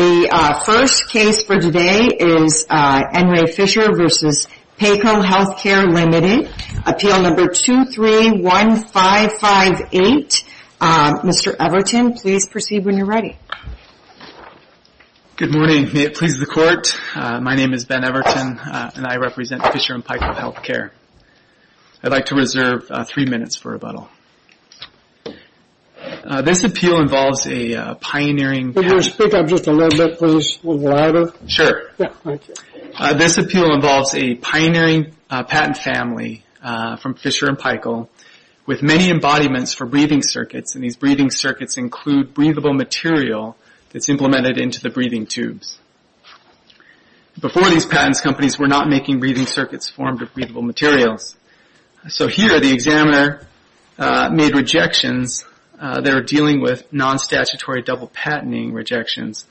The first case for today is N. Ray Fisher v. Paykel Healthcare Limited, Appeal No. 231558. Mr. Everton, please proceed when you're ready. Good morning. May it please the Court, my name is Ben Everton and I represent Fisher & Paykel Healthcare. I'd like to reserve three minutes for rebuttal. This appeal involves a pioneering patent family from Fisher & Paykel with many embodiments for breathing circuits. These breathing circuits include breathable material that's implemented into the breathing tubes. Before these patents, companies were not making breathing circuits formed of breathable materials. So here, the examiner made rejections that are dealing with non-statutory double-patenting rejections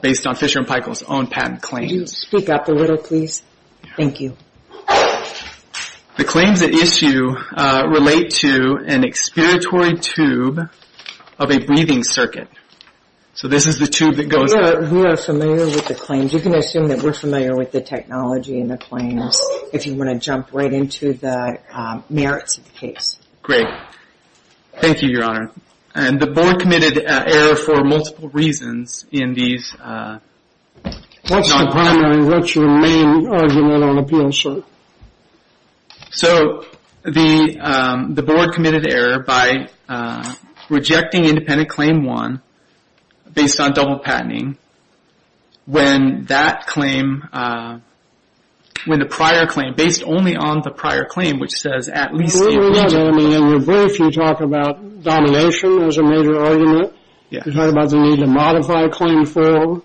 based on Fisher & Paykel's own patent claims. The claims at issue relate to an expiratory tube of a breathing circuit. So this is the tube that goes up. We are familiar with the claims. You can assume that we're familiar with the technology and the claims. If you want to jump right into the merits of the case. Thank you, Your Honor. And the board committed error for multiple reasons in these. What's the primary, what's your main argument on appeal, sir? So the board committed error by rejecting independent claim one based on double-patenting when that claim, when the prior claim, based only on the prior claim, which says at least a region. In your brief, you talk about domination as a major argument. You talk about the need to modify a claim for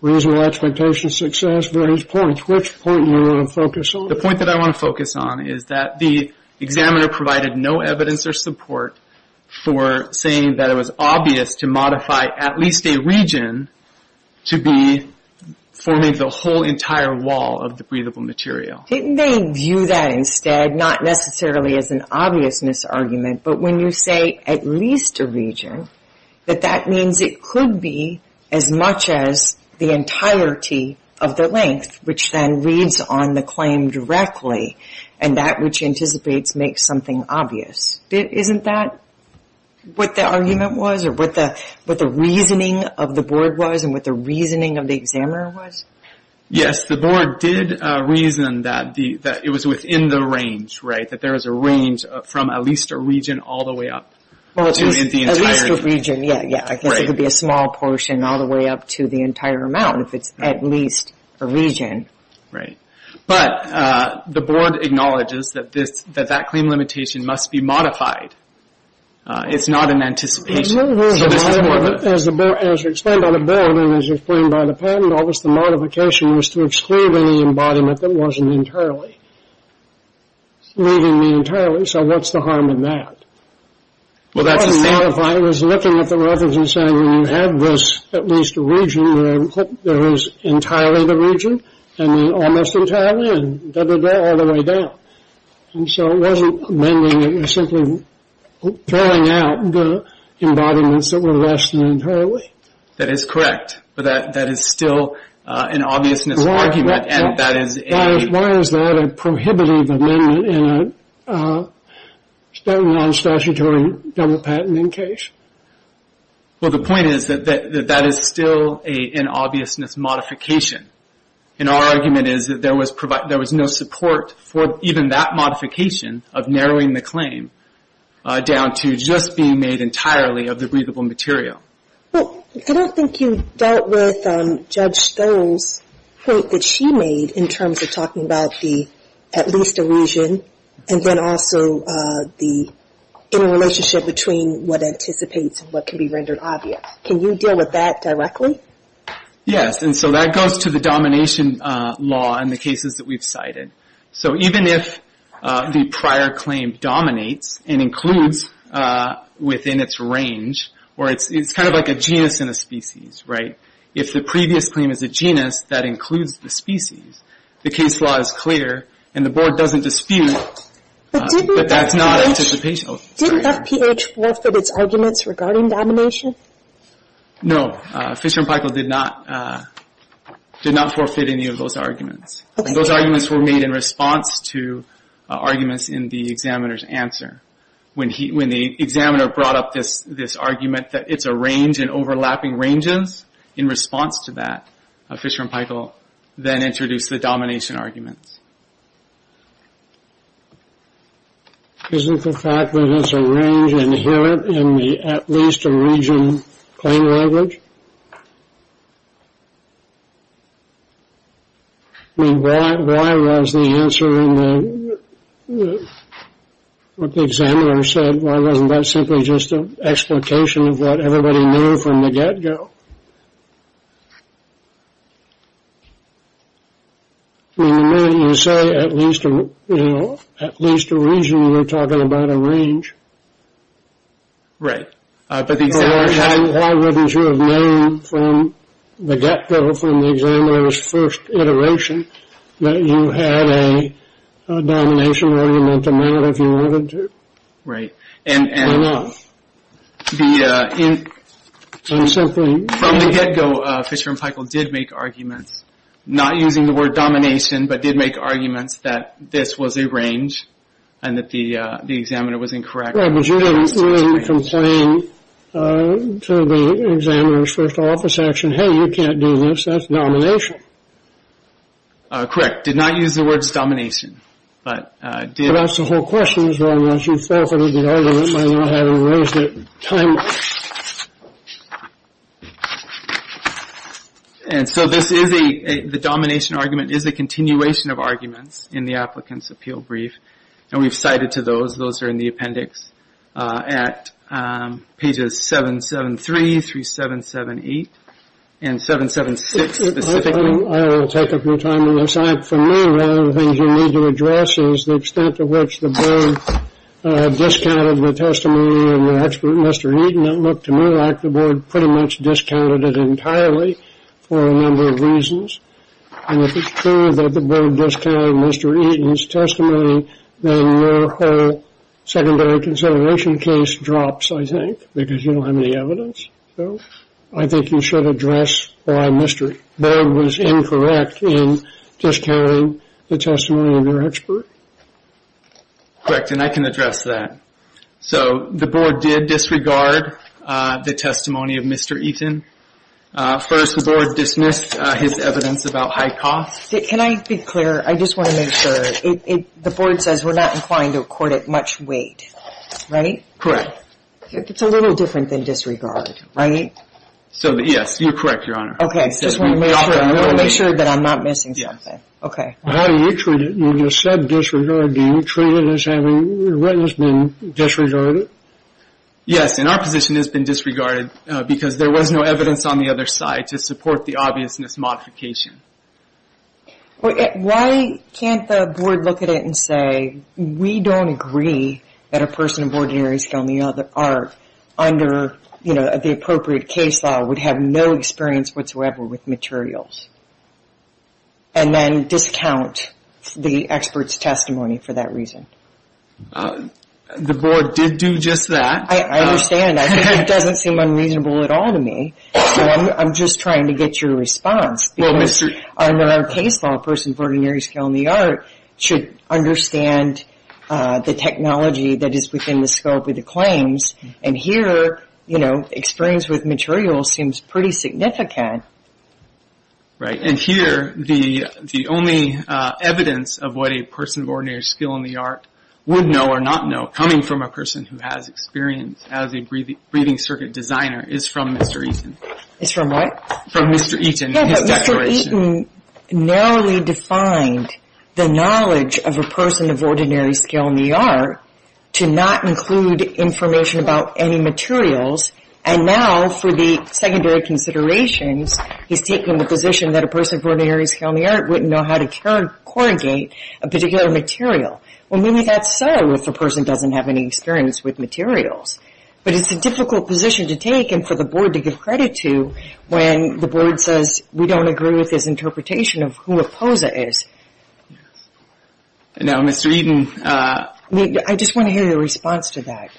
reasonable expectation of success, various points. Which point do you want to focus on? The point that I want to focus on is that the examiner provided no evidence or support for saying that it was obvious to modify at least a region to be forming the whole entire wall of the breathable material. Didn't they view that instead, not necessarily as an obviousness argument, but when you say at least a region, that that means it could be as much as the entirety of the length, which then reads on the claim directly. And that which anticipates makes something obvious. Isn't that what the argument was, or what the reasoning of the board was, and what the reasoning of the examiner was? Yes, the board did reason that it was within the range, that there was a range from at least a region all the way up to the entire... Well, at least a region, yeah. I guess it could be a small portion all the way up to the entire amount if it's at least a region. But the board acknowledges that that claim limitation must be modified. It's not an anticipation. As explained by the bill and as explained by the patent office, the modification was to exclude any embodiment that wasn't entirely, leaving the entirely, so what's the harm in that? Well, that's the same... What I'm modifying is looking at the reference and saying, well, you have this at least a region, and almost entirely, and double down all the way down. And so it wasn't amending, it was simply throwing out the embodiments that were less than entirely. That is correct. But that is still an obviousness argument, and that is a... Why is that a prohibitive amendment in a non-statutory double patenting case? Well, the point is that that is still an obviousness modification. And our argument is that there was no support for even that modification of narrowing the claim down to just being made entirely of the breathable material. Well, I don't think you dealt with Judge Stowe's point that she made in terms of talking about the at least a region, and then also the interrelationship between what anticipates and what can be rendered obvious. Can you deal with that directly? Yes, and so that goes to the domination law in the cases that we've cited. So even if the prior claim dominates and includes within its range, or it's kind of like a genus and a species, right? If the previous claim is a genus that includes the species, the case law is clear, and the Board doesn't dispute that that's not anticipational. Didn't FPH forfeit its arguments regarding domination? No, Fisher and Paykel did not forfeit any of those arguments, and those arguments were made in response to arguments in the examiner's answer. When the examiner brought up this argument that it's a range and overlapping ranges in response to that, Fisher and Paykel then introduced the domination arguments. Isn't the fact that it's a range inherent in the at least a region plain language? I mean, why was the answer in the, what the examiner said, why wasn't that simply just an explication of what everybody knew from the get-go? I mean, you say at least a region, you're talking about a range. Right. But the examiner had... Why wouldn't you have known from the get-go, from the examiner's first iteration, that you had a domination argument to mount if you wanted to? Right. Fair enough. And from the get-go, Fisher and Paykel did make arguments, not using the word domination, but did make arguments that this was a range and that the examiner was incorrect. Right, but you didn't complain to the examiner's first office action, hey, you can't do this, that's domination. Correct. Did not use the words domination, but did... You could ask the whole question as long as you forfeited the argument by not having raised it timely. And so this is a, the domination argument is a continuation of arguments in the applicant's appeal brief, and we've cited to those, those are in the appendix at pages 773 through 778, and 776 specifically. I will take a few time to recite for me, one of the things you need to address is the extent to which the board discounted the testimony of your expert, Mr. Eaton. It looked to me like the board pretty much discounted it entirely for a number of reasons. And if it's true that the board discounted Mr. Eaton's testimony, then your whole secondary consideration case drops, I think, because you don't have any evidence. So, I think you should address why Mr. Eaton was incorrect in discounting the testimony of your expert. Correct, and I can address that. So, the board did disregard the testimony of Mr. Eaton. First, the board dismissed his evidence about high costs. Can I be clear? I just want to make sure. The board says we're not inclined to accord it much weight, right? Correct. It's a little different than disregard, right? So, yes, you're correct, Your Honor. Okay, I just want to make sure that I'm not missing something. Okay. How do you treat it? You just said disregard. Do you treat it as having the witness being disregarded? Yes, and our position has been disregarded because there was no evidence on the other side to support the obviousness modification. Why can't the board look at it and say, we don't agree that a person of ordinary skill in the art, under the appropriate case law, would have no experience whatsoever with materials, and then discount the expert's testimony for that reason? The board did do just that. I understand. It doesn't seem unreasonable at all to me. So, I'm just trying to get your response. Because under our case law, a person of ordinary skill in the art should understand the technology that is within the scope of the claims. And here, you know, experience with materials seems pretty significant. Right, and here, the only evidence of what a person of ordinary skill in the art would know or not know coming from a person who has experience as a breathing circuit designer is from Mr. Eaton. Is from what? From Mr. Eaton. Yeah, but Mr. Eaton narrowly defined the knowledge of a person of ordinary skill in the art to not include information about any materials. And now, for the secondary considerations, he's taken the position that a person of ordinary skill in the art wouldn't know how to corrugate a particular material. Well, maybe that's so if a person doesn't have any experience with materials. But it's a difficult position to take and for the board to give credit to when the board says we don't agree with his interpretation of who a POSA is. Now, Mr. Eaton. I just want to hear your response to that.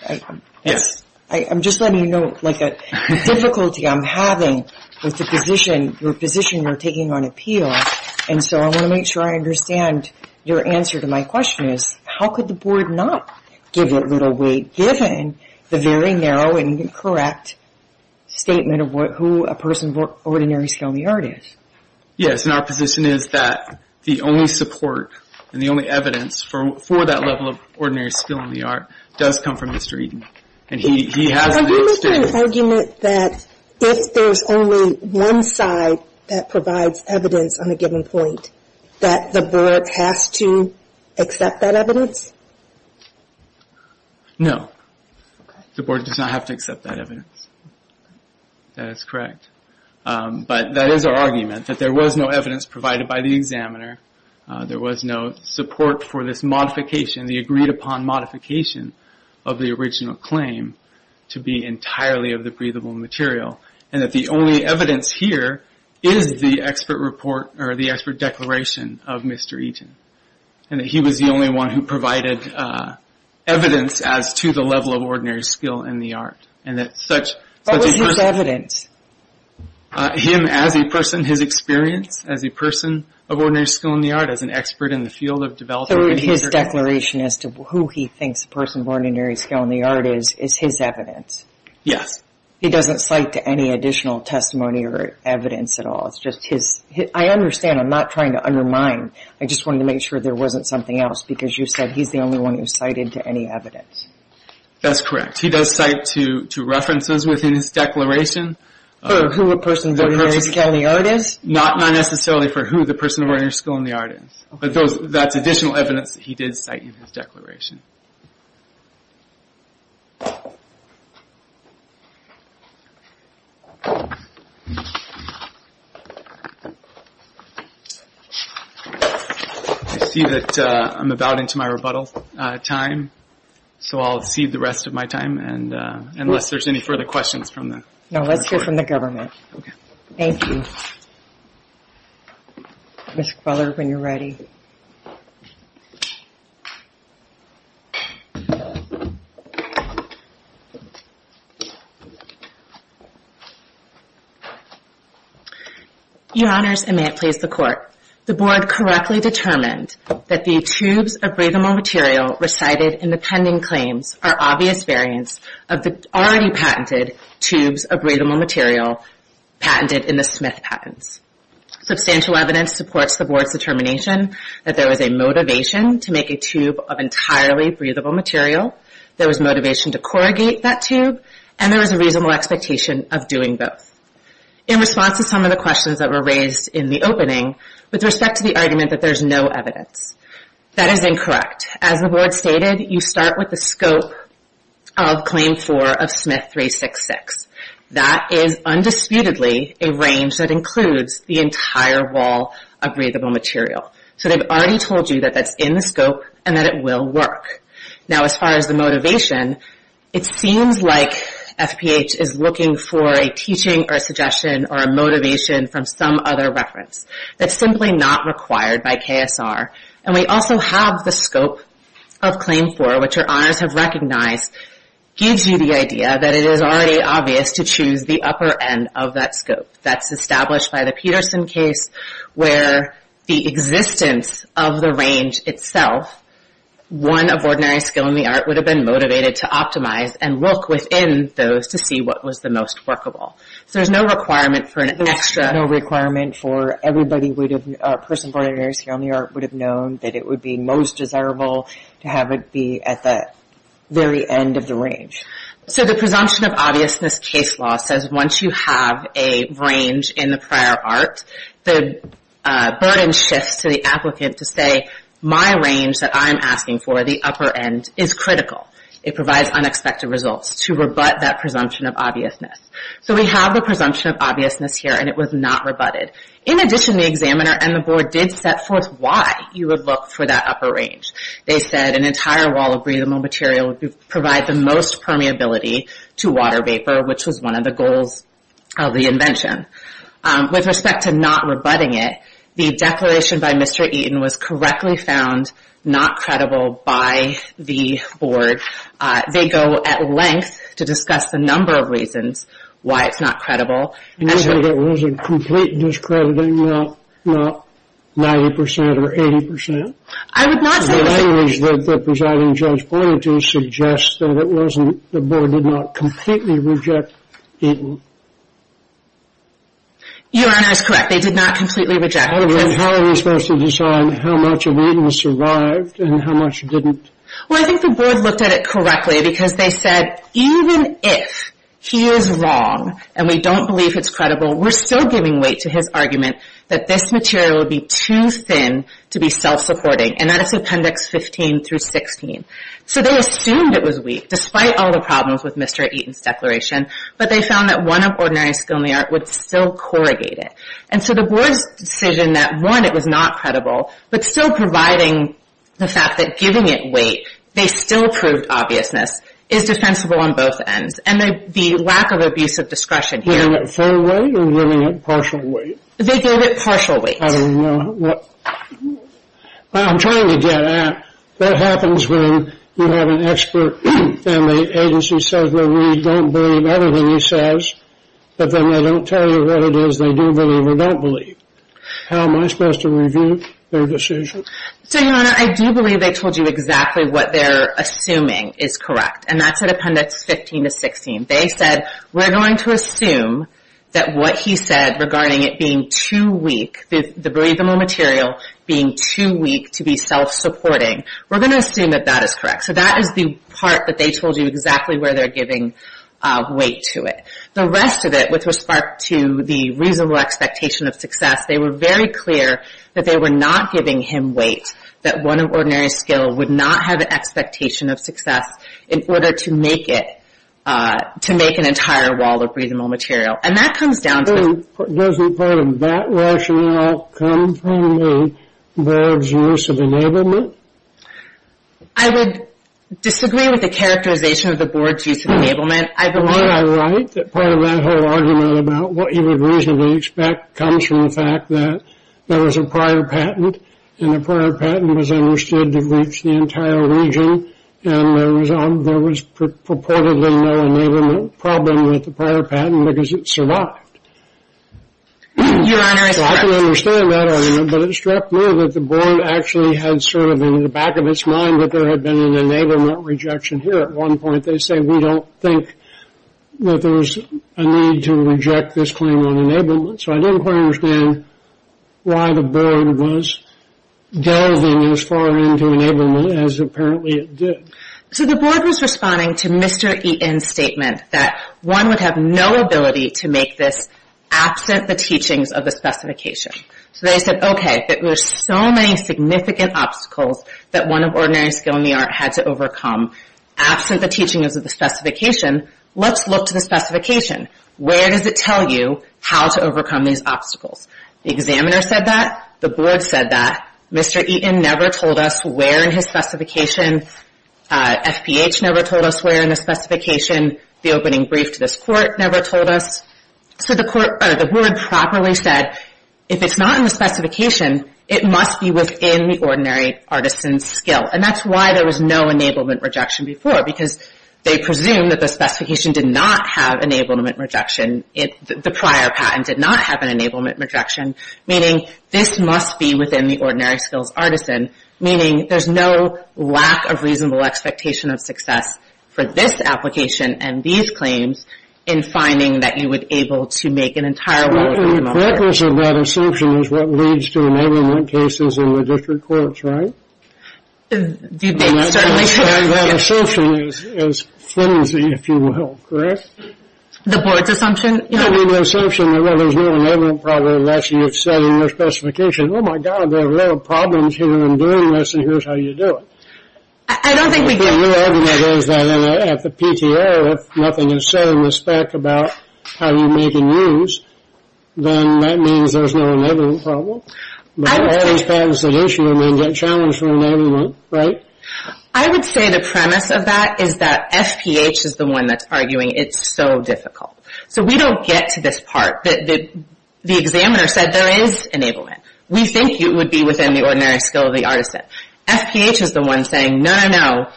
Yes. I'm just letting you know the difficulty I'm having with the position, your position you're taking on appeal. And so I want to make sure I understand your answer to my question is how could the board not give it little weight given the very narrow and incorrect statement of who a person of ordinary skill in the art is? And our position is that the only support and the only evidence for that level of ordinary skill in the art does come from Mr. Eaton. And he has an extended... Are you making an argument that if there's only one side that provides evidence on a given point that the board has to accept that evidence? No. Okay. The board does not have to accept that evidence. That is correct. But that is our argument that there was no evidence provided by the examiner. There was no support for this modification, the agreed upon modification of the original claim to be entirely of the breathable material. And that the only evidence here is the expert report or the expert declaration of Mr. Eaton. And that he was the only one who provided evidence as to the level of ordinary skill in the art. And that such... What was his evidence? Him as a person, his experience as a person of ordinary skill in the art, as an expert in the field of developing... So his declaration as to who he thinks the person of ordinary skill in the art is, is his evidence? Yes. He doesn't cite to any additional testimony or evidence at all. It's just his... I understand. I'm not trying to undermine. I just wanted to make sure there wasn't something else because you said he's the only one who cited to any evidence. That's correct. He does cite to references within his declaration. For who a person of ordinary skill in the art is? Not necessarily for who the person of ordinary skill in the art is. But that's additional evidence that he did cite in his declaration. I see that I'm about into my rebuttal time. So I'll cede the rest of my time and unless there's any further questions from the... No. Let's hear from the government. Thank you. Ms. Cruller, when you're ready. Your Honors, and may it please the Court. The Board correctly determined that the tubes of breathable material recited in the pending claims are obvious variants of the already patented tubes of breathable material patented in the Smith patents. Substantial evidence supports the Board's determination that there was a motivation to make a tube of entirely breathable material, there was motivation to corrugate that tube, and there was a reasonable expectation of doing both. In response to some of the questions that were raised in the opening with respect to the argument that there's no evidence, that is incorrect. As the Board stated, you start with the scope of Claim 4 of Smith 366. That is undisputedly a range that includes the entire wall of breathable material. So they've already told you that that's in the scope and that it will work. Now as far as the motivation, it seems like FPH is looking for a teaching or suggestion or a motivation from some other reference. That's simply not required by KSR. And we also have the scope of Claim 4, which your Honors have recognized, gives you the to choose the upper end of that scope. That's established by the Peterson case where the existence of the range itself, one of ordinary skill in the art would have been motivated to optimize and look within those to see what was the most workable. So there's no requirement for an extra... There's no requirement for everybody would have, a person of ordinary skill in the art would have known that it would be most desirable to have it be at the very end of the range. So the presumption of obviousness case law says once you have a range in the prior art, the burden shifts to the applicant to say my range that I'm asking for, the upper end, is critical. It provides unexpected results to rebut that presumption of obviousness. So we have the presumption of obviousness here and it was not rebutted. In addition, the examiner and the board did set forth why you would look for that upper range. They said an entire wall of breathable material would provide the most permeability to water vapor, which was one of the goals of the invention. With respect to not rebutting it, the declaration by Mr. Eaton was correctly found not credible by the board. They go at length to discuss the number of reasons why it's not credible. You mean it was a complete discrediting, not 90% or 80%? The language that the presiding judge pointed to suggests that the board did not completely reject Eaton. Your Honor is correct. They did not completely reject Eaton. How are we supposed to decide how much of Eaton survived and how much didn't? Well, I think the board looked at it correctly because they said even if he is wrong and we don't believe it's credible, we're still giving weight to his argument that this material would be too thin to be self-supporting, and that is Appendix 15 through 16. So they assumed it was weak, despite all the problems with Mr. Eaton's declaration, but they found that one of ordinary skill in the art would still corrugate it. And so the board's decision that one, it was not credible, but still providing the fact that giving it weight, they still proved obviousness, is defensible on both ends. And the lack of abusive discretion here... Giving it full weight or giving it partial weight? They gave it partial weight. I'm trying to get at, that happens when you have an expert and the agency says, well, we don't believe everything he says, but then they don't tell you what it is they do believe or don't believe. How am I supposed to review their decision? So, Your Honor, I do believe they told you exactly what they're assuming is correct, and that's at Appendix 15 to 16. They said, we're going to assume that what he said regarding it being too weak, the believable material being too weak to be self-supporting, we're going to assume that that is correct. So that is the part that they told you exactly where they're giving weight to it. The rest of it, with respect to the reasonable expectation of success, they were very clear that they were not giving him weight, that one of ordinary skill would not have an expectation of success in order to make it, to make an entire wall of reasonable material. And that comes down to... Doesn't part of that rationale come from the Board's use of enablement? I would disagree with the characterization of the Board's use of enablement. I believe... Am I right that part of that whole argument about what you would reasonably expect comes from the fact that there was a prior patent, and the prior patent was understood to reach the entire region, and there was purportedly no enablement problem with the prior patent because it survived? Your Honor... So I can understand that argument, but it struck me that the Board actually had sort of in the back of its mind that there had been an enablement rejection here at one point. They said, we don't think that there was a need to reject this claim on enablement. So I didn't quite understand why the Board was delving as far into enablement as apparently it did. So the Board was responding to Mr. Eaton's statement that one would have no ability to make this absent the teachings of the specification. So they said, okay, there's so many significant obstacles that one of ordinary skill in the art had to overcome absent the teachings of the specification. Let's look to the specification. Where does it tell you how to overcome these obstacles? The examiner said that. The Board said that. Mr. Eaton never told us where in his specification. FPH never told us where in the specification. The opening brief to this Court never told us. So the Board properly said, if it's not in the specification, it must be within the ordinary artisan's skill. And that's why there was no enablement rejection before, because they presumed that the specification did not have enablement rejection. The prior patent did not have an enablement rejection, meaning this must be within the ordinary skill's artisan, meaning there's no lack of reasonable expectation of success for this application and these claims in finding that you would be able to make an entire order. The correctness of that assumption is what leads to enablement cases in the District Courts, right? That assumption is flimsy, if you will, correct? The Board's assumption? You have the assumption that there's no enablement problem unless you've said in your specification, oh my God, there are a lot of problems here in doing this, and here's how you do it. I don't think we do. The real evidence is that at the PTO, if nothing is said in respect about how you make and use, then that means there's no enablement problem. But all these patents that issue may get challenged for enablement, right? I would say the premise of that is that FPH is the one that's arguing it's so difficult. So we don't get to this part, that the examiner said there is enablement. We think it would be within the ordinary skill of the artisan. FPH is the one saying, no, no, no,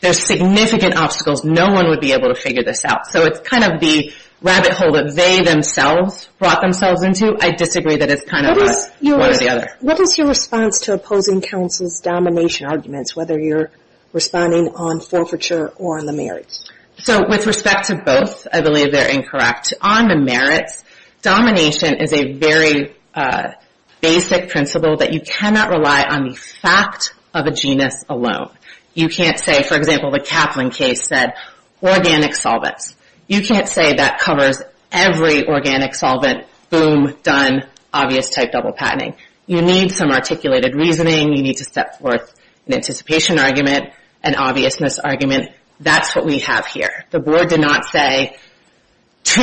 there's significant obstacles, no one would be able to figure this out. So it's kind of the rabbit hole that they themselves brought themselves into. I disagree that it's kind of one or the other. What is your response to opposing counsel's domination arguments, whether you're responding on forfeiture or on the merits? So with respect to both, I believe they're incorrect. On the merits, domination is a very basic principle that you cannot rely on the fact of a genus alone. You can't say, for example, the Kaplan case said organic solvents. You can't say that covers every organic solvent, boom, done, obvious type double patenting. You need some articulated reasoning, you need to step forth an anticipation argument, an obviousness argument. That's what we have here. The board did not say two,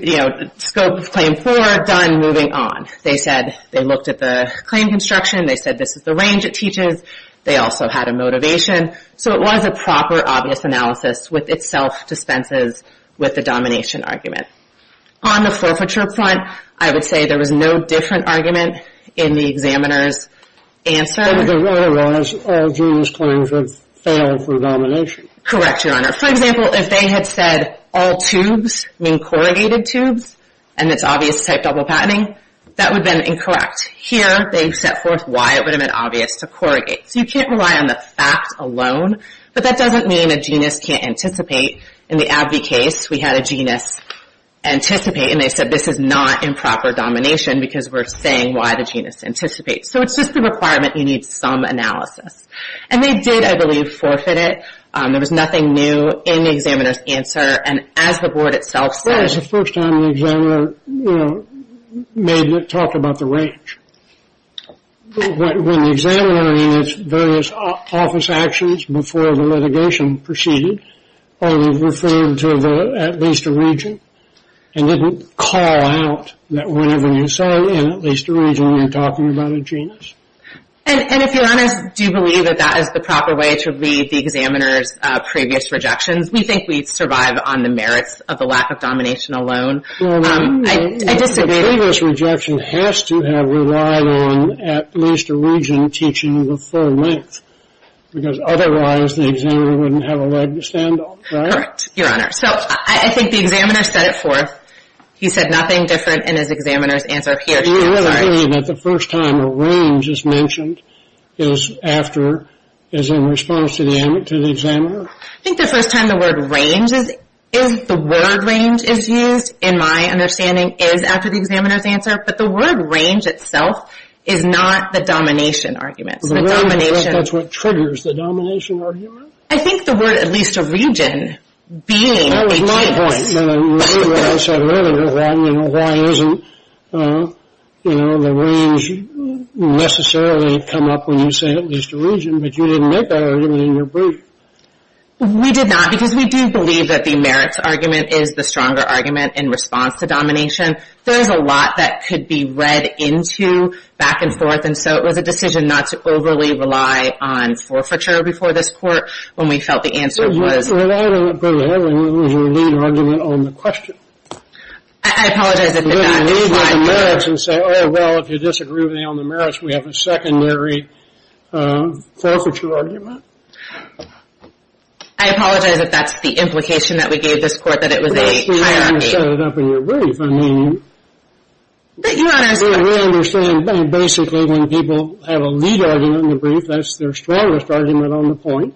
you know, scope of claim four, done, moving on. They said they looked at the claim construction, they said this is the range it teaches, they also had a motivation. So it was a proper, obvious analysis with its self-dispenses with the domination argument. On the forfeiture front, I would say there was no different argument in the examiner's answer. And the runner was all genus claims would fail for domination. Correct, Your Honor. For example, if they had said all tubes, meaning corrugated tubes, and it's obvious type double patenting, that would have been incorrect. Here, they've set forth why it would have been obvious to corrugate. So you can't rely on the fact alone, but that doesn't mean a genus can't anticipate. In the Abbey case, we had a genus anticipate, and they said this is not improper domination because we're saying why the genus anticipates. So it's just the requirement you need some analysis. And they did, I believe, forfeit it. There was nothing new in the examiner's answer, and as the board itself said... Well, it was the first time the examiner, you know, made it talk about the range. When the examiner made its various office actions before the litigation proceeded, only referred to at least a region, and didn't call out that whenever you saw in at least a region, you're talking about a genus. And if you're honest, do you believe that that is the proper way to read the examiner's previous rejections? We think we'd survive on the merits of the lack of domination alone. The previous rejection has to have relied on at least a region teaching the full length, because otherwise the examiner wouldn't have a leg to stand on, right? Correct, Your Honor. So I think the examiner set it forth. He said nothing different in his examiner's answer. Do you have a feeling that the first time a range is mentioned is after, is in response to the examiner? I think the first time the word range is, is the word range is used, in my understanding, is after the examiner's answer, but the word range itself is not the domination argument. So the word range, that's what triggers the domination argument? I think the word at least a region being a key point. I agree with what I said earlier, why isn't the range necessarily come up when you say at least a region, but you didn't make that argument in your brief. We did not, because we do believe that the merits argument is the stronger argument in response to domination. There is a lot that could be read into back and forth, and so it was a decision not to overly rely on forfeiture before this court, when we felt the answer was... Well, I don't put a headline, it was a lead argument on the question. I apologize, I did not mean that. Well, if you disagree on the merits, we have a secondary forfeiture argument. I apologize if that's the implication that we gave this court, that it was a hierarchy. Well, we may have set it up in your brief. I mean, we understand basically when people have a lead argument in the brief, that's their strongest argument on the point,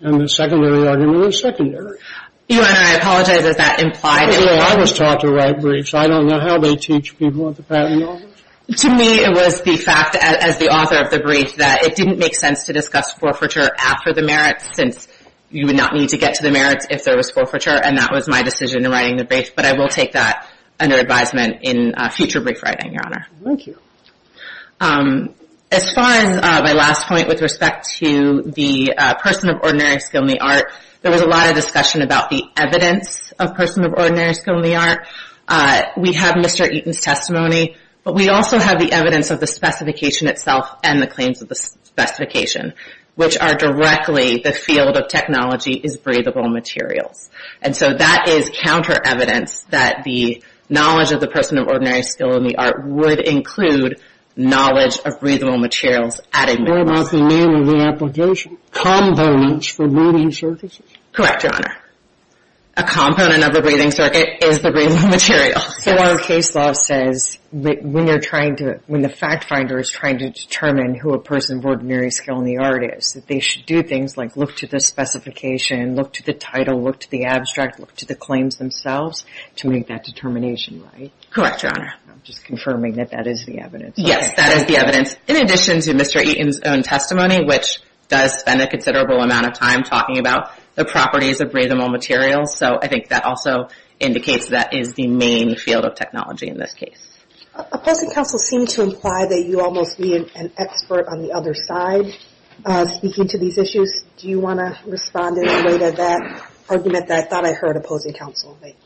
and the secondary argument was secondary. Your Honor, I apologize if that implied... I was taught to write briefs. I don't know how they teach people at the patent office. To me, it was the fact, as the author of the brief, that it didn't make sense to discuss forfeiture after the merits, since you would not need to get to the merits if there was forfeiture, and that was my decision in writing the brief, but I will take that under advisement in future brief writing, Your Honor. Thank you. As far as my last point, with respect to the person of ordinary skill in the art, there was a lot of discussion about the evidence of person of ordinary skill in the art. We have Mr. Eaton's testimony, but we also have the evidence of the specification itself and the claims of the specification, which are directly the field of technology is breathable materials, and so that is counter-evidence that the knowledge of the person of ordinary skill in the art would include knowledge of breathable materials at a merits. What about the name of the application? Components for breathing surfaces? Correct, Your Honor. A component of a breathing circuit is the breathable material. So our case law says that when you're trying to, when the fact finder is trying to determine who a person of ordinary skill in the art is, that they should do things like look to the specification, look to the title, look to the abstract, look to the claims themselves, to make that determination right? Correct, Your Honor. I'm just confirming that that is the evidence. Yes, that is the evidence. In addition to Mr. Eaton's own testimony, which does spend a considerable amount of time talking about the properties of breathable materials, so I think that also indicates that is the main field of technology in this case. Opposing counsel seem to imply that you almost need an expert on the other side speaking to these issues. Do you want to respond in a way to that argument that I thought I heard opposing counsel make?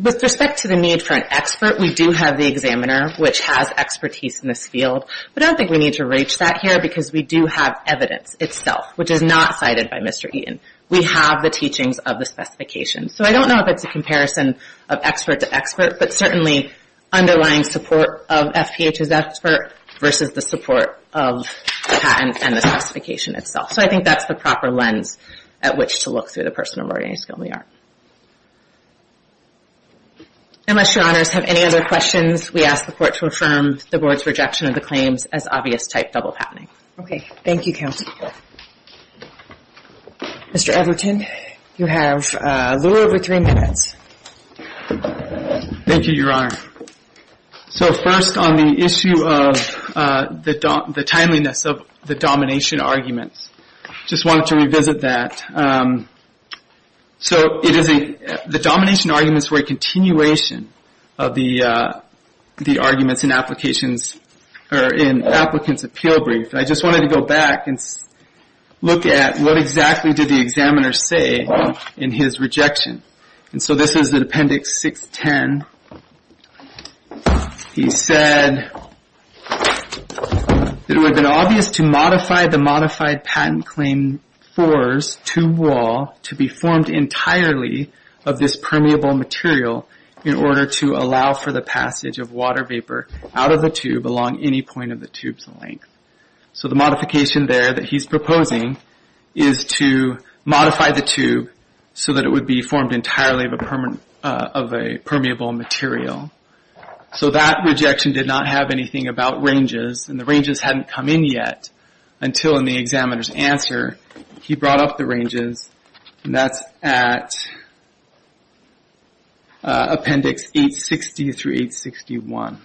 With respect to the need for an expert, we do have the examiner, which has expertise in this field, but I don't think we need to reach that here because we do have evidence itself, which is not cited by Mr. Eaton. We have the teachings of the specifications. So I don't know if it's a comparison of expert to expert, but certainly underlying support of FPH's expert versus the support of the patent and the specification itself. So I think that's the proper lens at which to look through the person of ordinary skill in the art. Unless Your Honors have any other questions, we ask the Court to affirm the Board's rejection of the claims as obvious type double patenting. Thank you, counsel. Mr. Everton, you have a little over three minutes. Thank you, Your Honor. So first, on the issue of the timeliness of the domination arguments, just wanted to revisit that. So the domination arguments were a continuation of the arguments in applications or in applicants' appeal brief. I just wanted to go back and look at what exactly did the examiner say in his rejection. So this is in Appendix 610. He said, it would have been obvious to modify the modified patent claim fours to wall to be formed entirely of this permeable material in order to allow for the passage of water vapor out of the tube along any point of the tube's length. So the modification there that he's proposing is to modify the tube so that it would be formed entirely of a permeable material. So that rejection did not have anything about ranges and the ranges hadn't come in yet until in the examiner's answer. He brought up the ranges and that's at Appendix 860 through 861.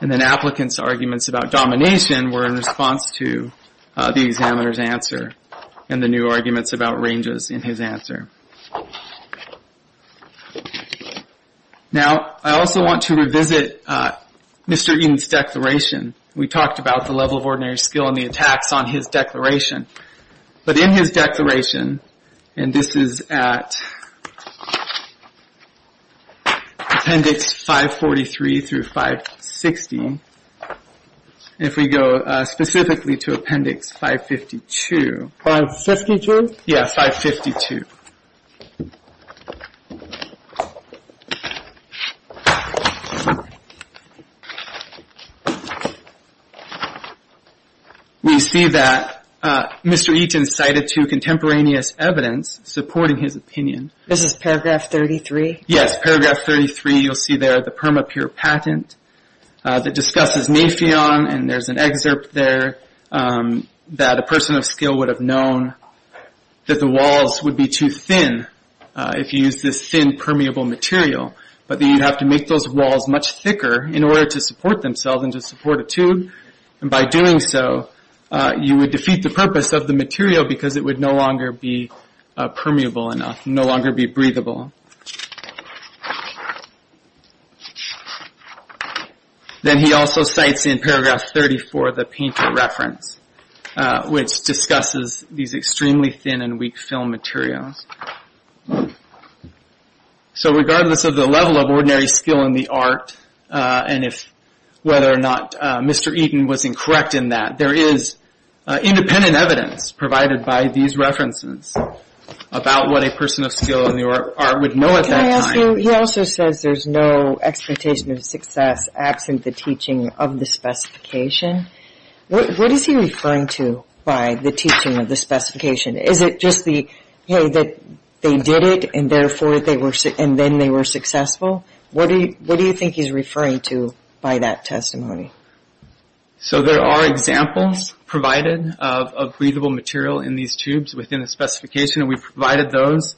And then applicants' arguments about domination were in response to the examiner's answer and the new arguments about ranges in his answer. Now, I also want to revisit Mr. Eaton's declaration. We talked about the level of ordinary skill and the attacks on his declaration. But in his declaration, and this is at Appendix 543 through 560, if we go specifically to Appendix 552. 552? Yeah, 552. We see that Mr. Eaton cited two contemporaneous evidence supporting his opinion. This is Paragraph 33? Yes, Paragraph 33. You'll see there the Permapure Patent that discusses napheon and there's an excerpt there that a person of skill would have known that the walls would be too thin if you used this thin permeable material. But you'd have to make those walls much thicker in order to support themselves and to support a tube and by doing so, you would defeat the purpose of the material because it would no longer be permeable enough, no longer be breathable. Then he also cites in Paragraph 34 the painter reference, which discusses these extremely thin and weak film materials. So regardless of the level of ordinary skill in the art and whether or not Mr. Eaton was incorrect in that, there is independent evidence provided by these references about what a person of skill in the art would know at that time. Can I ask you, he also says there's no expectation of success absent the teaching of the specification. What is he referring to by the teaching of the specification? Is it just the hey, that they did it and therefore they were and then they were successful? What do you what do you think he's referring to by that testimony? So there are examples provided of breathable material in these tubes within the specification and we've provided those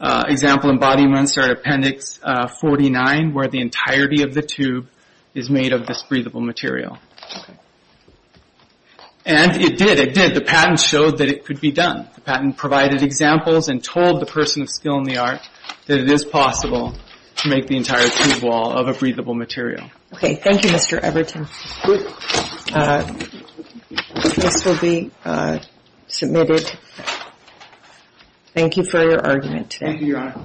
example embodiments are in Appendix 49 where the entirety of the tube is made of this breathable material. And it did, it did. The patent showed that it could be done. The patent provided examples and told the person of skill in the art that it is possible to make the entire tube wall of a breathable material. Thank you, Mr. Everton. This will be submitted. Thank you for your argument today. Thank you, Your Honor.